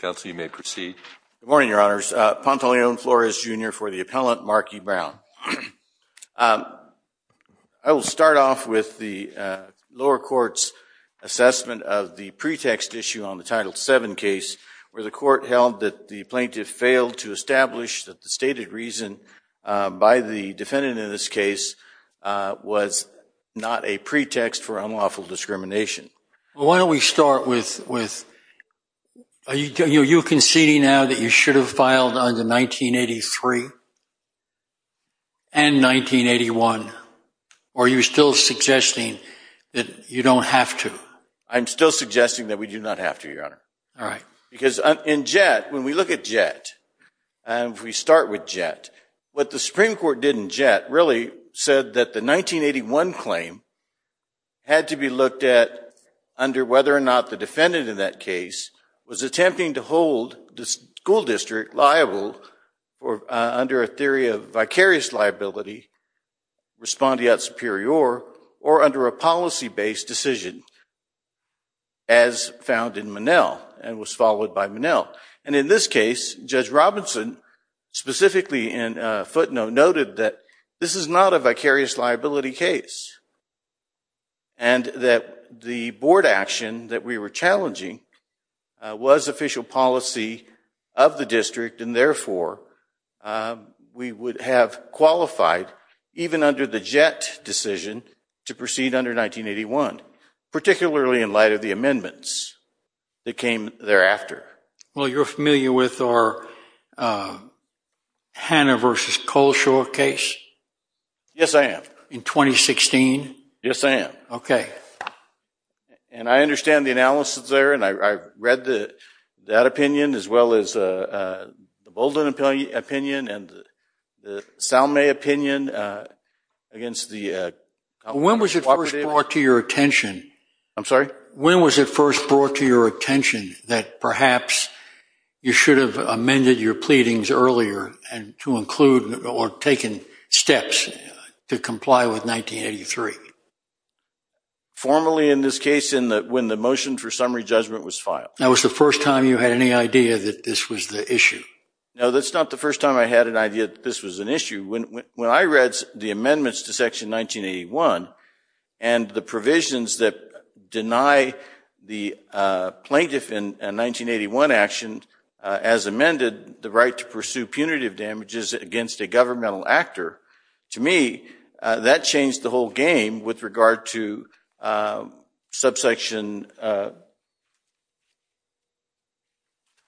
Pantaleon Flores, Jr. for the Appellant, Mark E. Brown. I will start off with the lower court's assessment of the pretext issue on the Title VII case where the court held that the plaintiff failed to establish that the stated reason by the was not a pretext for unlawful discrimination. Why don't we start with, are you conceding now that you should have filed under 1983 and 1981, or are you still suggesting that you don't have to? I'm still suggesting that we do not have to, Your Honor. All right. Because in Jett, when we look at Jett, and if we start with Jett, what the Supreme Court did in Jett really said that the 1981 claim had to be looked at under whether or not the defendant in that case was attempting to hold the school district liable under a theory of vicarious liability, respondeat superior, or under a policy-based decision as found in Monell and was followed by Monell. And in this case, Judge Robinson specifically in footnote noted that this is not a vicarious liability case and that the board action that we were challenging was official policy of the district, and therefore, we would have qualified even under the Jett decision to proceed under 1981, particularly in light of the amendments that came thereafter. Well, you're familiar with our Hannah v. Cole short case? Yes, I am. In 2016? Yes, I am. Okay. And I understand the analysis there, and I read that opinion as well as the Bolden opinion and the Salme opinion against the— When was it first brought to your attention— I'm sorry? You should have amended your pleadings earlier to include or taken steps to comply with 1983. Formally, in this case, when the motion for summary judgment was filed. Now, was the first time you had any idea that this was the issue? No, that's not the first time I had an idea that this was an issue. When I read the amendments to Section 1981 and the provisions that deny the plaintiff in 1981 action, as amended, the right to pursue punitive damages against a governmental actor, to me, that changed the whole game with regard to subsection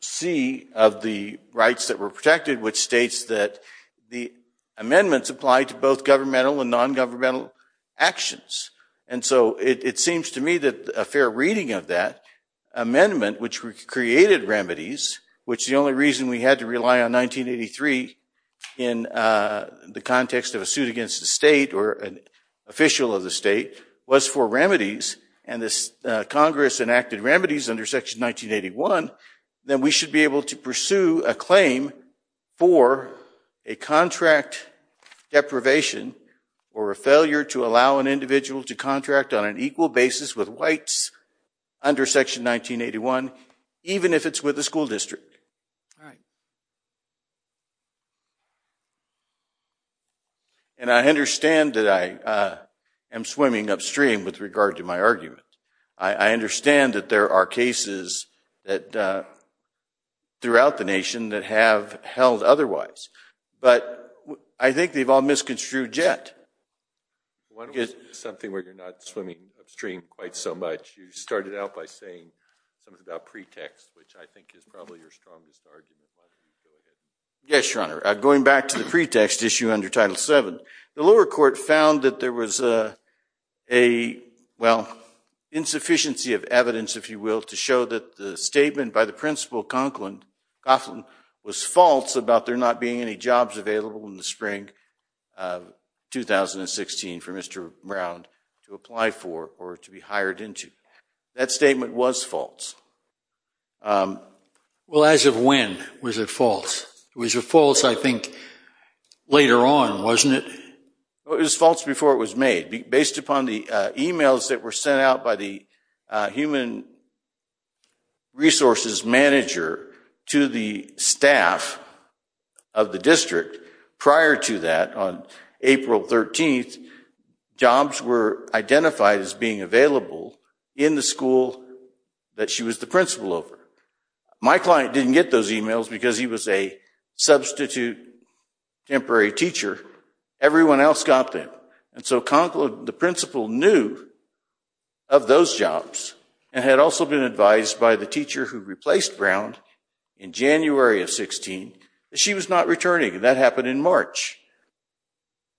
C of the rights that were protected, which states that the amendments apply to both governmental and non-governmental actions. And so it seems to me that a fair reading of that amendment, which created remedies, which the only reason we had to rely on 1983 in the context of a suit against the state or an and this Congress enacted remedies under Section 1981, then we should be able to pursue a claim for a contract deprivation or a failure to allow an individual to contract on an equal basis with whites under Section 1981, even if it's with the school district. I understand that I am swimming upstream with regard to my argument. I understand that there are cases throughout the nation that have held otherwise, but I think they've all misconstrued yet. One is something where you're not swimming upstream quite so much. You started out by saying something about pretext, which I think is probably your strongest argument. Yes, Your Honor. Going back to the pretext issue under Title VII, the lower court found that there was a, well, insufficiency of evidence, if you will, to show that the statement by the principal, Conklin, was false about there not being any jobs available in the spring of 2016 for Mr. Brown to apply for or to be hired into. That statement was false. Well, as of when was it false? It was a false, I think, later on, wasn't it? It was false before it was made. Based upon the emails that were sent out by the human resources manager to the staff of the district prior to that, on April 13th, jobs were identified as being available in the school that she was the principal over. My client didn't get those emails because he was a substitute temporary teacher. Everyone else got them, and so Conklin, the principal, knew of those jobs and had also been advised by the teacher who replaced Brown in January of 16 that she was not returning, and that happened in March.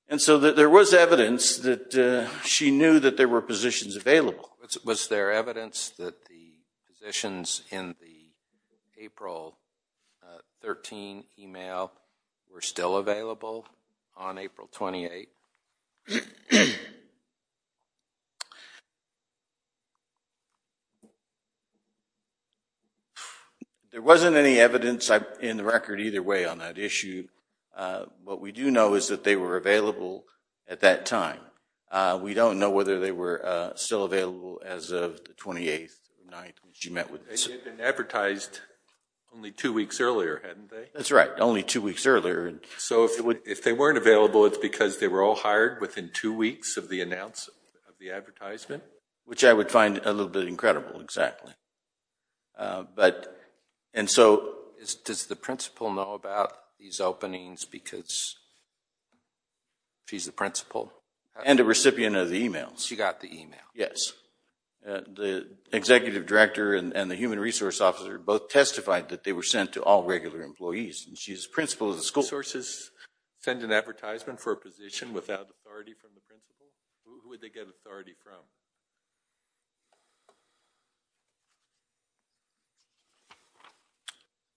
And so there was evidence that she knew that there were positions available. Was there evidence that the positions in the April 13 email were still available on April 28? There wasn't any evidence in the record either way on that issue. What we do know is that they were available at that time. We don't know whether they were still available as of the 28th night she met with us. They had been advertised only two weeks earlier, hadn't they? That's right, only two weeks earlier. So if they weren't available, it's because they were all hired within two weeks of the announcement of the advertisement? Which I would find a little bit incredible, exactly. Does the principal know about these openings because she's the principal? And a recipient of the emails. She got the email. Yes, the executive director and the human resource officer both testified that they were sent to all regular employees, and she's the principal of the school. Sources send an advertisement for a position without authority from the principal? Who would they get authority from?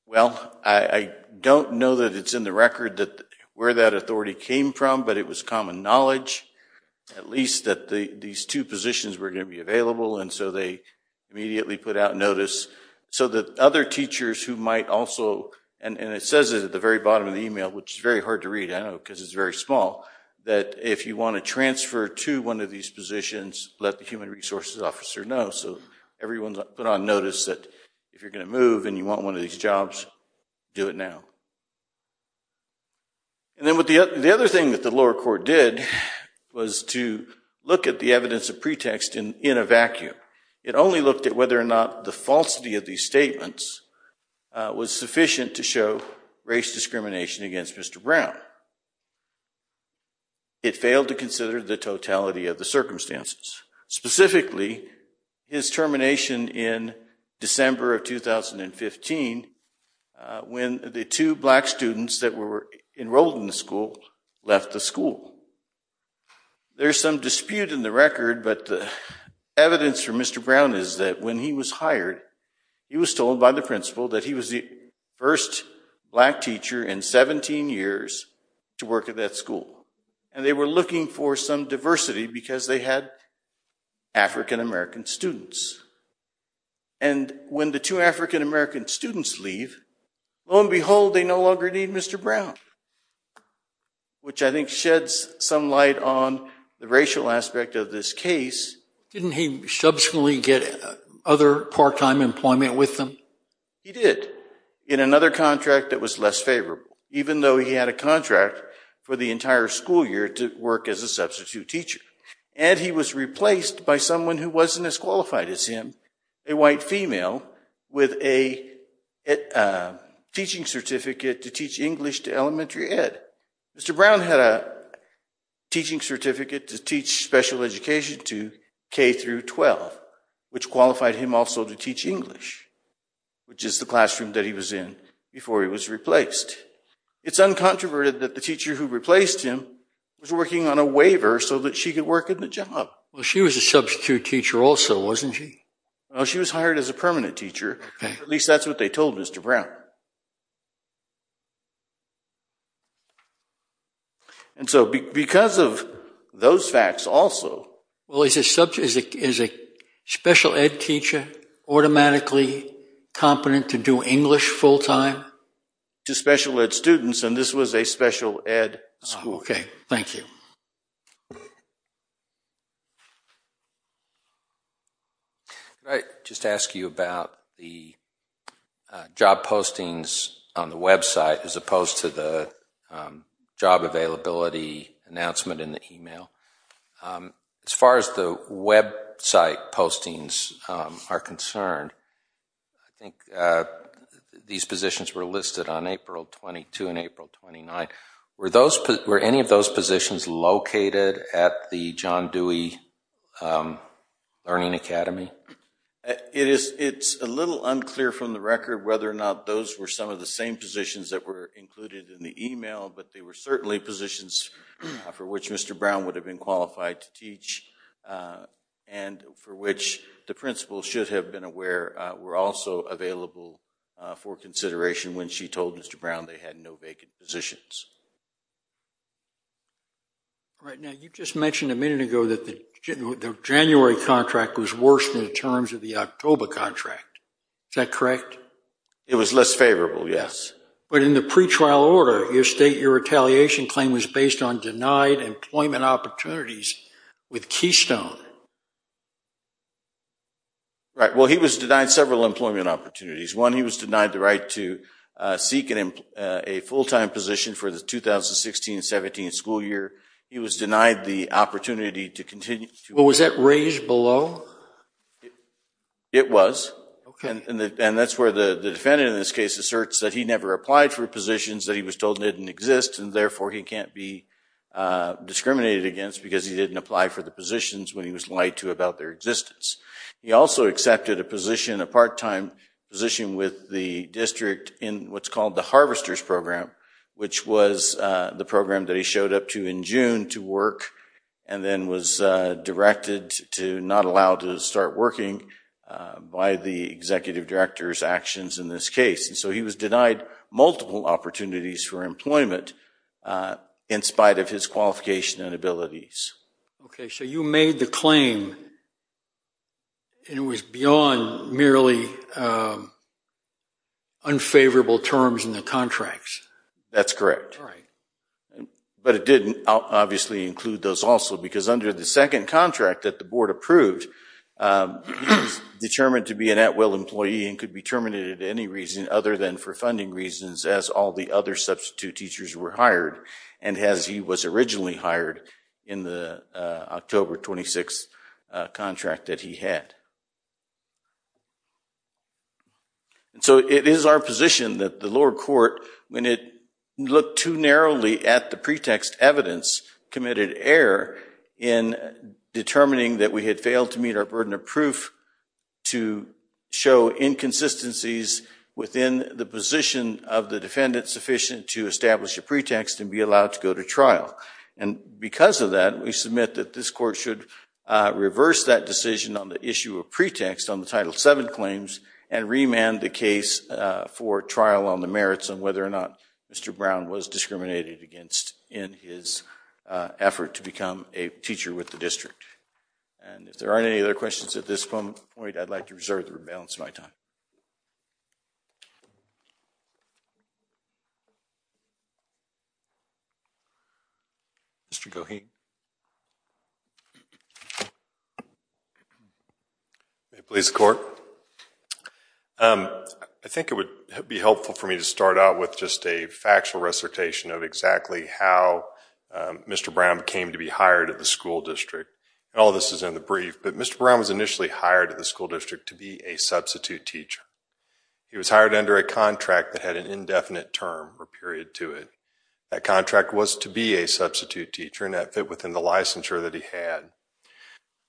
Well, I don't know that it's in the record where that authority came from, but it was common knowledge, at least, that these two positions were going to be available, and so they immediately put out notice so that other teachers who might also, and it says it at the very bottom of the email, which is very hard to read, I know, because it's very small, that if you want to transfer to one of these positions, let the human resources officer know. So everyone's put on notice that if you're going to move and you want one of these jobs, do it now. And then the other thing that the lower court did was to look at the evidence of pretext in a vacuum. It only looked at whether or not the falsity of these statements was sufficient to show race discrimination against Mr. Brown. It failed to consider the totality of the circumstances. Specifically, his termination in December of 2015 when the two black students that were enrolled in the school left the school. There's some dispute in the record, but the evidence for Mr. Brown is that when he was hired, he was told by the principal that he was the first black teacher in 17 years to work at that school. And they were looking for some diversity because they had African-American students. And when the two African-American students leave, lo and behold, they no longer need Mr. Brown, which I think sheds some light on the racial aspect of this case. Didn't he subsequently get other part-time employment with them? He did, in another contract that was less favorable, even though he had a contract for the entire school year to work as a substitute teacher. And he was replaced by someone who wasn't as qualified as him, a white female with a teaching certificate to teach English to elementary ed. Mr. Brown had a teaching certificate to teach special education to K through 12, which qualified him also to teach English, which is the classroom that he was in before he was replaced. It's uncontroverted that the teacher who replaced him was working on a waiver so that she could work in the job. Well, she was a substitute teacher also, wasn't she? Well, she was hired as a permanent teacher. At least that's what they told Mr. Brown. And so because of those facts also— Well, is a special ed teacher automatically competent to do English full-time? To special ed students, and this was a special ed school. Okay, thank you. Could I just ask you about the job postings on the website as opposed to the job availability announcement in the email? As far as the website postings are concerned, I think these positions were listed on April 22 and April 29. Were any of those positions located at the John Dewey Learning Academy? It's a little unclear from the record whether or not those were some of the same positions that were included in the email, but they were certainly positions for which Mr. Brown would have been qualified to teach and for which the principal should have been aware were also available for consideration when she told Mr. Brown they had no vacant positions. All right, now you just mentioned a minute ago that the January contract was worse than the terms of the October contract. Is that correct? It was less favorable, yes. But in the pretrial order, you state your retaliation claim was based on denied employment opportunities with Keystone. Right, well, he was denied several employment opportunities. One, he was denied the right to seek a full-time position for the 2016-17 school year. He was denied the opportunity to continue. Was that raised below? It was, and that's where the defendant in this case asserts that he never applied for discriminated against because he didn't apply for the positions when he was lied to about their existence. He also accepted a part-time position with the district in what's called the harvester's program, which was the program that he showed up to in June to work and then was directed to not allow to start working by the executive director's actions in this case. So he was denied multiple opportunities for employment in spite of his qualification and abilities. Okay, so you made the claim and it was beyond merely unfavorable terms in the contracts. That's correct. But it didn't obviously include those also because under the second contract that the board approved, he was determined to be an at-will employee and could be terminated other than for funding reasons as all the other substitute teachers were hired and as he was originally hired in the October 26th contract that he had. So it is our position that the lower court, when it looked too narrowly at the pretext evidence committed error in determining that we had failed to meet our burden of proof to show inconsistencies within the position of the defendant sufficient to establish a pretext and be allowed to go to trial. And because of that, we submit that this court should reverse that decision on the issue of pretext on the Title VII claims and remand the case for trial on the merits on whether or not Mr. Brown was discriminated against in his effort to become a teacher with the district. And if there aren't any other questions at this point, I'd like to reserve the balance of my time. Mr. Goheen. May it please the court. I think it would be helpful for me to start out with just a factual recitation of exactly how Mr. Brown came to be hired at the school district. And all this is in the brief. But Mr. Brown was initially hired at the school district to be a substitute teacher. He was hired under a contract that had an indefinite term or period to it. That contract was to be a substitute teacher and that fit within the licensure that he had.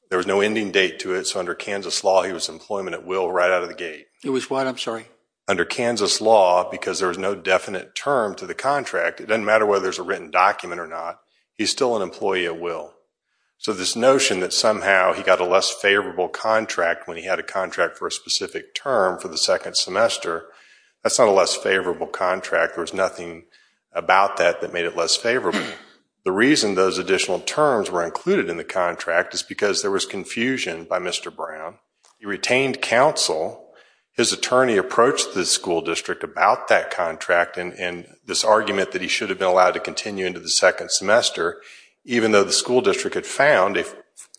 There was no ending date to it. So under Kansas law, he was employment at will right out of the gate. It was what? I'm sorry. Under Kansas law, because there was no definite term to the contract, it doesn't matter whether there's a written document or not, he's still an employee at will. So this notion that somehow he got a less favorable contract when he had a contract for a specific term for the second semester, that's not a less favorable contract. There was nothing about that that made it less favorable. The reason those additional terms were included in the contract is because there was confusion by Mr. Brown. He retained counsel. His attorney approached the school district about that contract and this argument that he should have been allowed to continue into the second semester even though the school district had found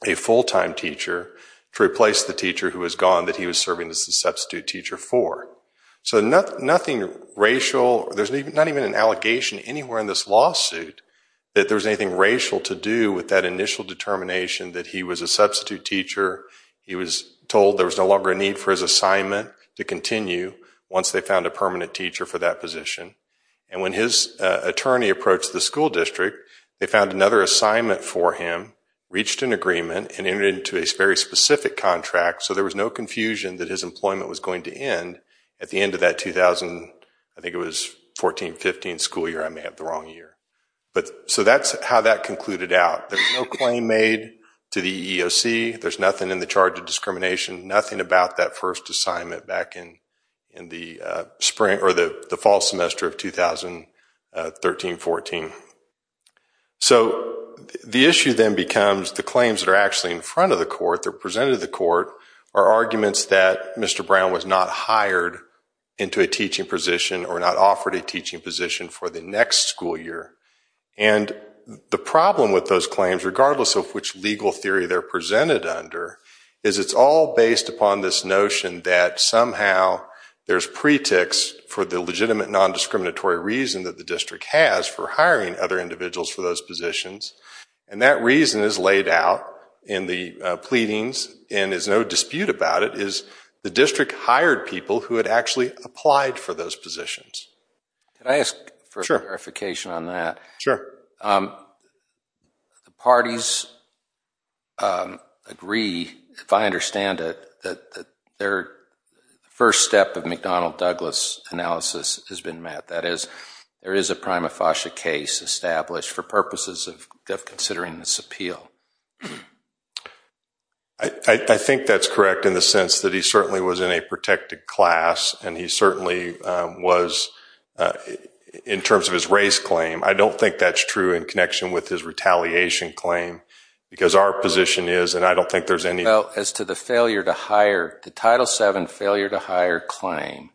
a full-time teacher to replace the teacher who was gone that he was serving as a substitute teacher for. So nothing racial, there's not even an allegation anywhere in this lawsuit that there's anything racial to do with that initial determination that he was a substitute teacher, he was told there was no longer a need for his assignment to continue once they found a permanent teacher for that position. And when his attorney approached the school district, they found another assignment for him, reached an agreement, and entered into a very specific contract so there was no confusion that his employment was going to end at the end of that 2000, I think it was 14-15 school year, I may have the wrong year. So that's how that concluded out. There's no claim made to the EEOC, there's nothing in the charge of discrimination, nothing about that first assignment back in the fall semester of 2013-14. So the issue then becomes the claims that are actually in front of the court, that are presented to the court, are arguments that Mr. Brown was not hired into a teaching position or not offered a teaching position for the next school year. And the problem with those claims, regardless of which legal theory they're presented under, is it's all based upon this notion that somehow there's pretext for the legitimate non-discriminatory reason that the district has for hiring other individuals for those positions. And that reason is laid out in the pleadings, and there's no dispute about it, is the district hired people who had actually applied for those positions. Can I ask for clarification on that? Sure. The parties agree, if I understand it, that their first step of McDonnell-Douglas analysis has been met. That is, there is a prima facie case established for purposes of considering this appeal. I think that's correct in the sense that he certainly was in a protected class, and he certainly was in terms of his race claim. I don't think that's true in connection with his retaliation claim, because our position is, and I don't think there's any- Well, as to the failure to hire, the Title VII failure to hire claim,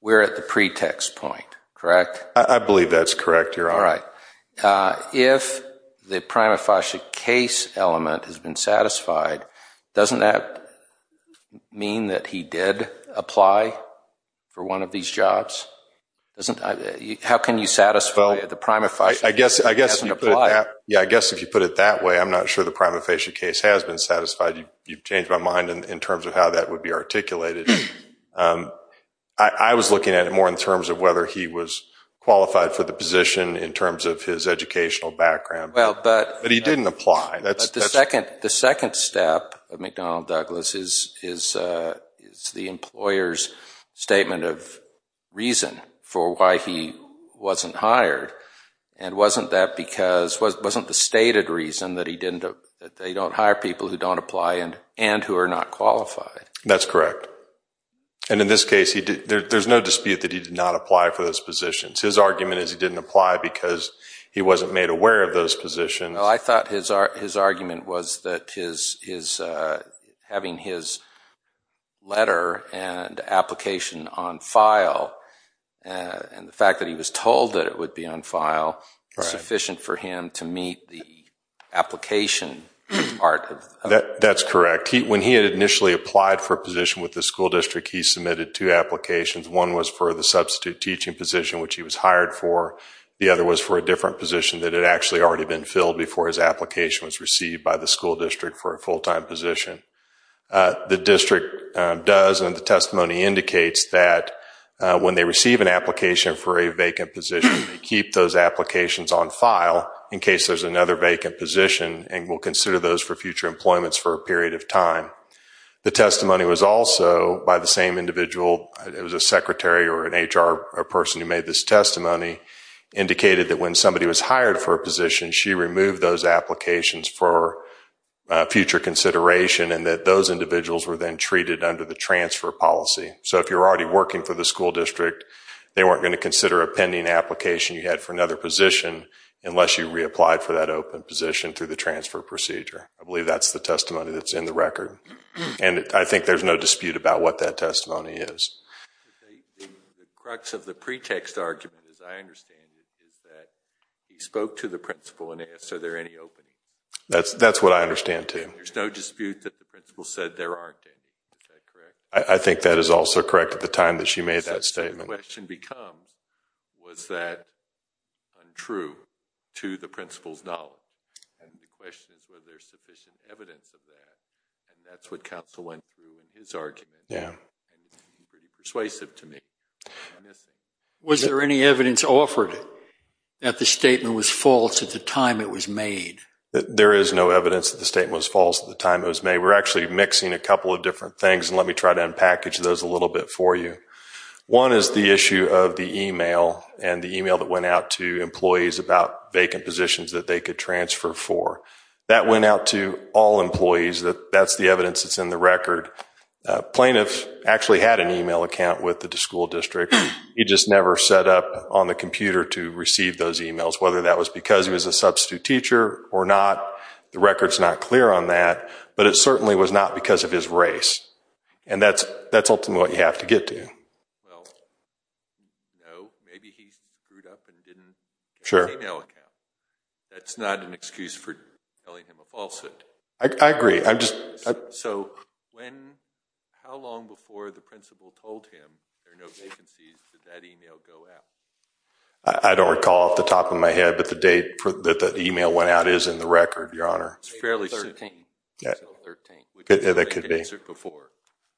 we're at the pretext point, correct? I believe that's correct, Your Honor. All right. If the prima facie case element has been satisfied, doesn't that mean that he did apply for one of these jobs? How can you satisfy the prima facie- I guess if you put it that way, I'm not sure the prima facie case has been satisfied. You've changed my mind in terms of how that would be articulated. I was looking at it more in terms of whether he was qualified for the position in terms of his educational background, but he didn't apply. The second step of McDonnell Douglas is the employer's statement of reason for why he wasn't hired, and wasn't that because, wasn't the stated reason that they don't hire people who don't apply and who are not qualified? That's correct. And in this case, there's no dispute that he did not apply for those positions. His argument is he didn't apply because he wasn't made aware of those positions. I thought his argument was that having his letter and application on file and the fact that he was told that it would be on file is sufficient for him to meet the application part of- That's correct. When he had initially applied for a position with the school district, he submitted two applications. One was for the substitute teaching position, which he was hired for. The other was for a different position that had actually already been filled before his application was received by the school district for a full-time position. The district does, and the testimony indicates that when they receive an application for a vacant position, they keep those applications on file in case there's another vacant position and will consider those for future employments for a period of time. The testimony was also by the same individual, it was a secretary or an HR person who made this testimony, indicated that when somebody was hired for a position, she removed those applications for future consideration and that those individuals were then treated under the transfer policy. So if you're already working for the school district, they weren't going to consider a pending application you had for another position unless you reapplied for that open position through the transfer procedure. I believe that's the testimony that's in the record, and I think there's no dispute about what that testimony is. The crux of the pretext argument, as I understand it, is that he spoke to the principal and asked, are there any openings? That's what I understand, too. There's no dispute that the principal said there aren't any, is that correct? I think that is also correct at the time that she made that statement. The question becomes, was that untrue to the principal's knowledge? And the question is whether there's sufficient evidence of that, and that's what counsel went through in his argument. Yeah. Persuasive to me. Was there any evidence offered that the statement was false at the time it was made? There is no evidence that the statement was false at the time it was made. We're actually mixing a couple of different things, and let me try to unpackage those a little bit for you. One is the issue of the email and the email that went out to employees about vacant positions that they could transfer for. That went out to all employees. That's the evidence that's in the record. Plaintiff actually had an email account with the school district. He just never set up on the computer to receive those emails, whether that was because he was a substitute teacher or not. The record's not clear on that. But it certainly was not because of his race. And that's ultimately what you have to get to. Well, no. Maybe he screwed up and didn't get an email account. That's not an excuse for telling him a falsehood. I agree. So how long before the principal told him there are no vacancies did that email go out? I don't recall off the top of my head, but the date that the email went out is in the record, Your Honor. It's fairly soon. April 13. That could be. Before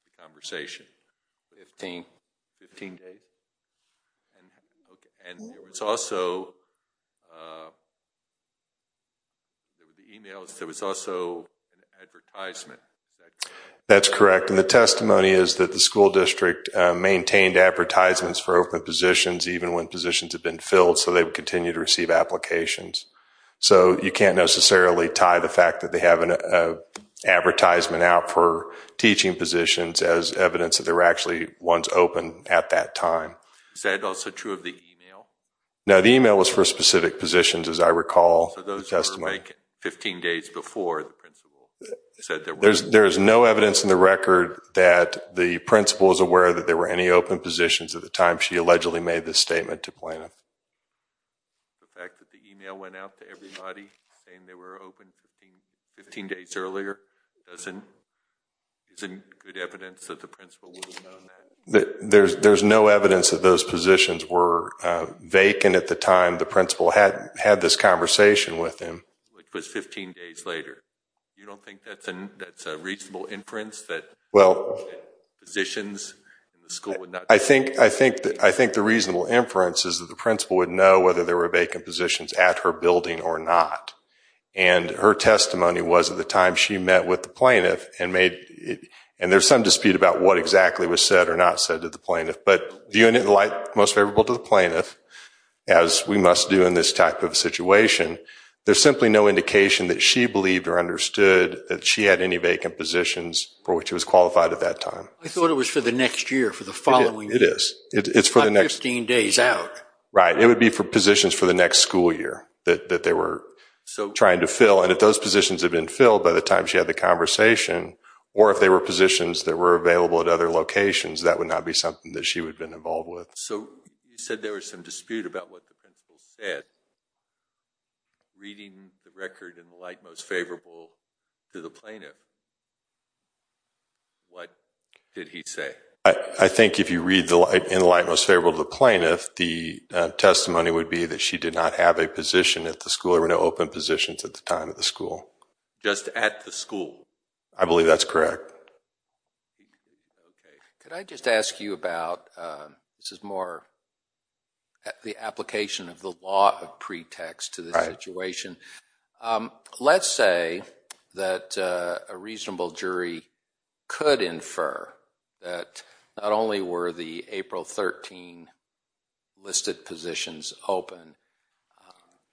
the conversation. 15. 15 days. And it's also. There were the emails. There was also an advertisement. That's correct. And the testimony is that the school district maintained advertisements for open positions, even when positions have been filled. So they would continue to receive applications. So you can't necessarily tie the fact that they have an advertisement out for teaching positions as evidence that there were actually ones open at that time. Is that also true of the email? No, the email was for specific positions, as I recall. So those were like 15 days before the principal said there were. There is no evidence in the record that the principal is aware that there were any open positions at the time she allegedly made this statement to Plano. The fact that the email went out to everybody saying they were open 15 days earlier doesn't. Is it good evidence that the principal would have known that? There's no evidence that those positions were vacant at the time the principal had this conversation with him. Which was 15 days later. You don't think that's a reasonable inference that. Well. Positions in the school would not. I think the reasonable inference is that the principal would know whether there were vacant positions at her building or not. And her testimony was at the time she met with the plaintiff and made it. And there's some dispute about what exactly was said or not said to the plaintiff. But the unit most favorable to the plaintiff, as we must do in this type of situation, there's simply no indication that she believed or understood that she had any vacant positions for which it was qualified at that time. I thought it was for the next year for the following. It is. It's for the next 15 days out. Right. It would be for positions for the next school year that they were trying to fill. And if those positions have been filled by the time she had the conversation, or if they were positions that were available at other locations, that would not be something that she would have been involved with. So you said there was some dispute about what the principal said. Reading the record in the light most favorable to the plaintiff. What did he say? I think if you read in the light most favorable to the plaintiff, the testimony would be that she did not have a position at the school or no open positions at the time at the school. Just at the school. I believe that's correct. Okay. Could I just ask you about, this is more the application of the law of pretext to the situation. Um, let's say that a reasonable jury could infer that not only were the April 13 listed positions open,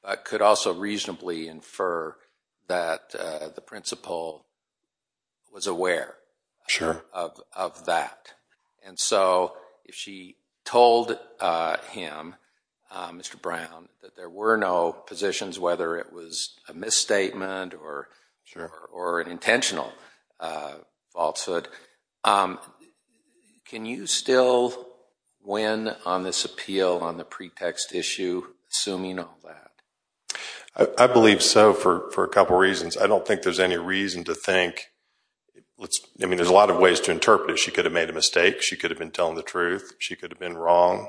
but could also reasonably infer that the principal was aware of that. And so if she told him, Mr. Brown, that there were no positions, whether it was a misstatement or an intentional falsehood, can you still win on this appeal on the pretext issue, assuming all that? I believe so for a couple reasons. I don't think there's any reason to think, I mean, there's a lot of ways to interpret it. She could have made a mistake. She could have been telling the truth. She could have been wrong.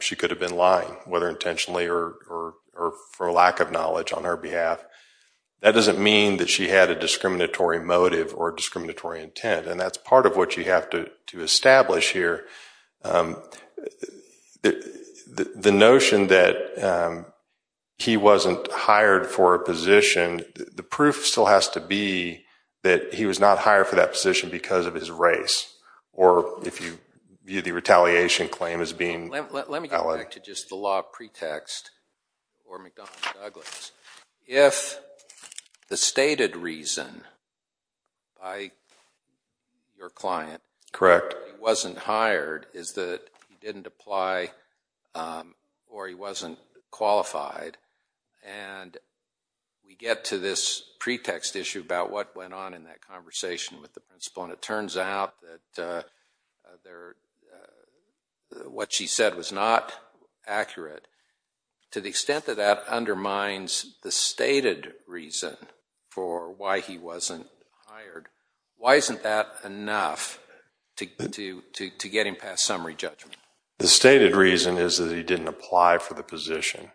She could have been lying, whether intentionally or for lack of knowledge on her behalf. That doesn't mean that she had a discriminatory motive or discriminatory intent. And that's part of what you have to establish here. The notion that he wasn't hired for a position, the proof still has to be that he was not hired for that position because of his race. Or if you view the retaliation claim as being valid. Let me get back to just the law of pretext for McDonough and Douglas. If the stated reason by your client that he wasn't hired is that he didn't apply or he wasn't qualified, and we get to this pretext issue about what went on in that conversation with the principal, and it turns out that what she said was not accurate. To the extent that that undermines the stated reason for why he wasn't hired, why isn't that enough to get him past summary judgment? The stated reason is that he didn't apply for the position.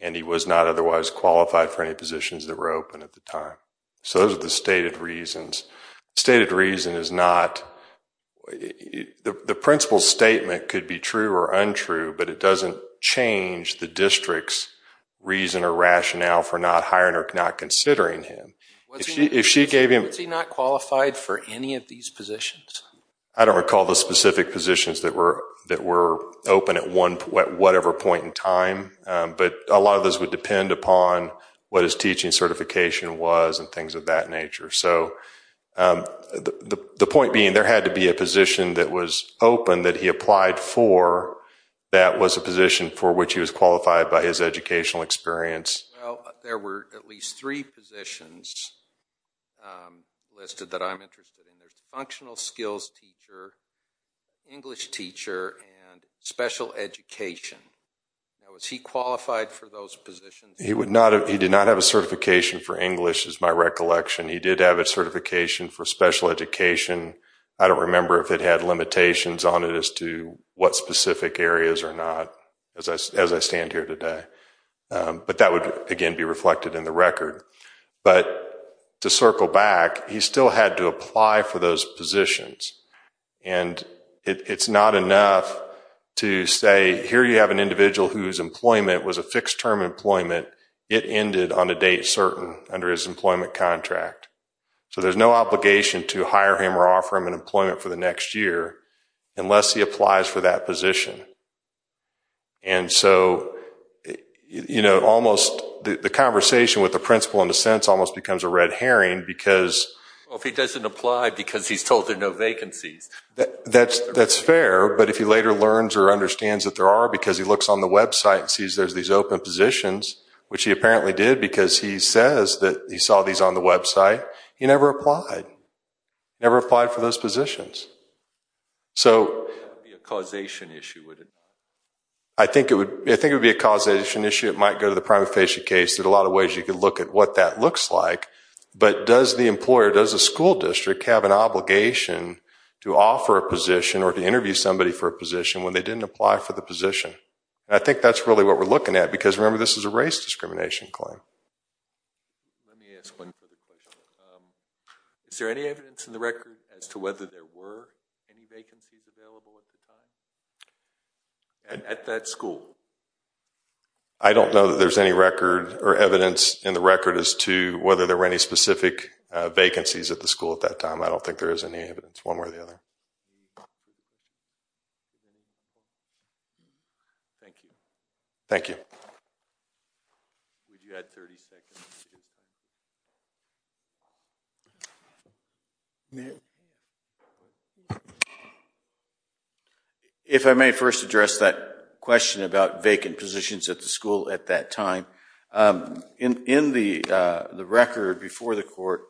And he was not otherwise qualified for any positions that were open at the time. So those are the stated reasons. The stated reason is not, the principal's statement could be true or untrue, but it doesn't change the district's reason or rationale for not hiring or not considering him. Was he not qualified for any of these positions? I don't recall the specific positions that were open at whatever point in time, but a of that nature. So the point being, there had to be a position that was open that he applied for that was a position for which he was qualified by his educational experience. There were at least three positions listed that I'm interested in. There's a functional skills teacher, English teacher, and special education. Now, was he qualified for those positions? He did not have a certification for English, is my recollection. He did have a certification for special education. I don't remember if it had limitations on it as to what specific areas or not, as I stand here today. But that would, again, be reflected in the record. But to circle back, he still had to apply for those positions. And it's not enough to say, here you have an individual whose employment was a fixed term employment. It ended on a date certain under his employment contract. So there's no obligation to hire him or offer him an employment for the next year unless he applies for that position. And so, you know, almost the conversation with the principal in a sense almost becomes a red herring because. Well, if he doesn't apply because he's told there are no vacancies. That's fair. But if he later learns or understands that there are because he looks on the website and sees there's these open positions, which he apparently did because he says that he saw these on the website. He never applied. Never applied for those positions. So causation issue. I think it would be a causation issue. It might go to the prima facie case. There's a lot of ways you could look at what that looks like. But does the employer, does the school district have an obligation to offer a position or to interview somebody for a position when they didn't apply for the position? I think that's really what we're looking at, because remember, this is a race discrimination claim. Let me ask one further question. Is there any evidence in the record as to whether there were any vacancies available at the time at that school? I don't know that there's any record or evidence in the record as to whether there were any specific vacancies at the school at that time. I don't think there is any evidence one way or the other. Thank you. Thank you. If I may first address that question about vacant positions at the school at that time. In the record before the court,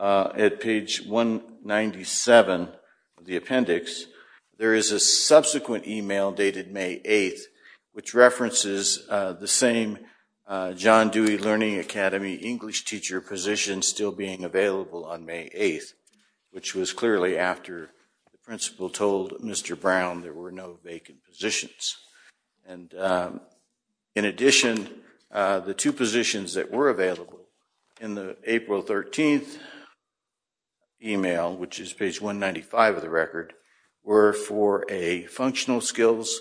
at page 197 of the appendix, there is a subsequent email dated May 8th, which references the same John Dewey Learning Academy English teacher position still being available on May 8th, which was clearly after the principal told Mr. Brown there were no vacant positions. And in addition, the two positions that were available in the April 13th email, which is page 195 of the record, were for a functional skills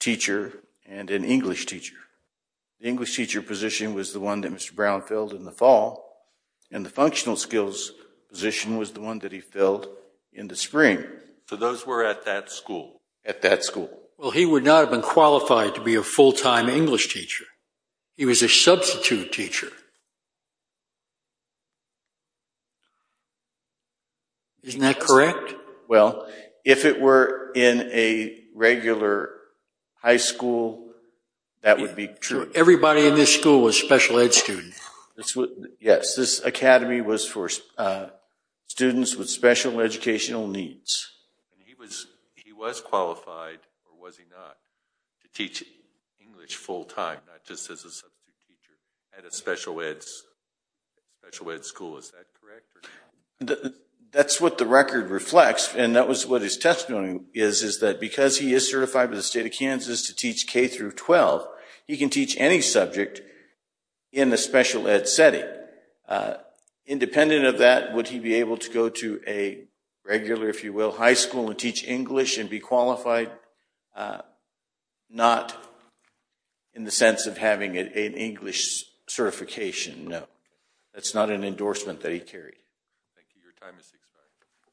teacher and an English teacher. The English teacher position was the one that Mr. Brown filled in the fall, and the functional skills position was the one that he filled in the spring. So those were at that school? At that school. Well, he would not have been qualified to be a full-time English teacher. He was a substitute teacher. Isn't that correct? Well, if it were in a regular high school, that would be true. Everybody in this school was a special ed student. Yes, this academy was for students with special educational needs. He was qualified, or was he not, to teach English full-time, not just as a substitute teacher at a special ed school. Is that correct? That's what the record reflects, and that was what his testimony is, is that because he is certified by the state of Kansas to teach K-12, he can teach any subject in a special ed setting. Independent of that, would he be able to go to a regular, if you will, high school and teach English and be qualified? Not in the sense of having an English certification, no. That's not an endorsement that he carried. Thank you. Your time is expired.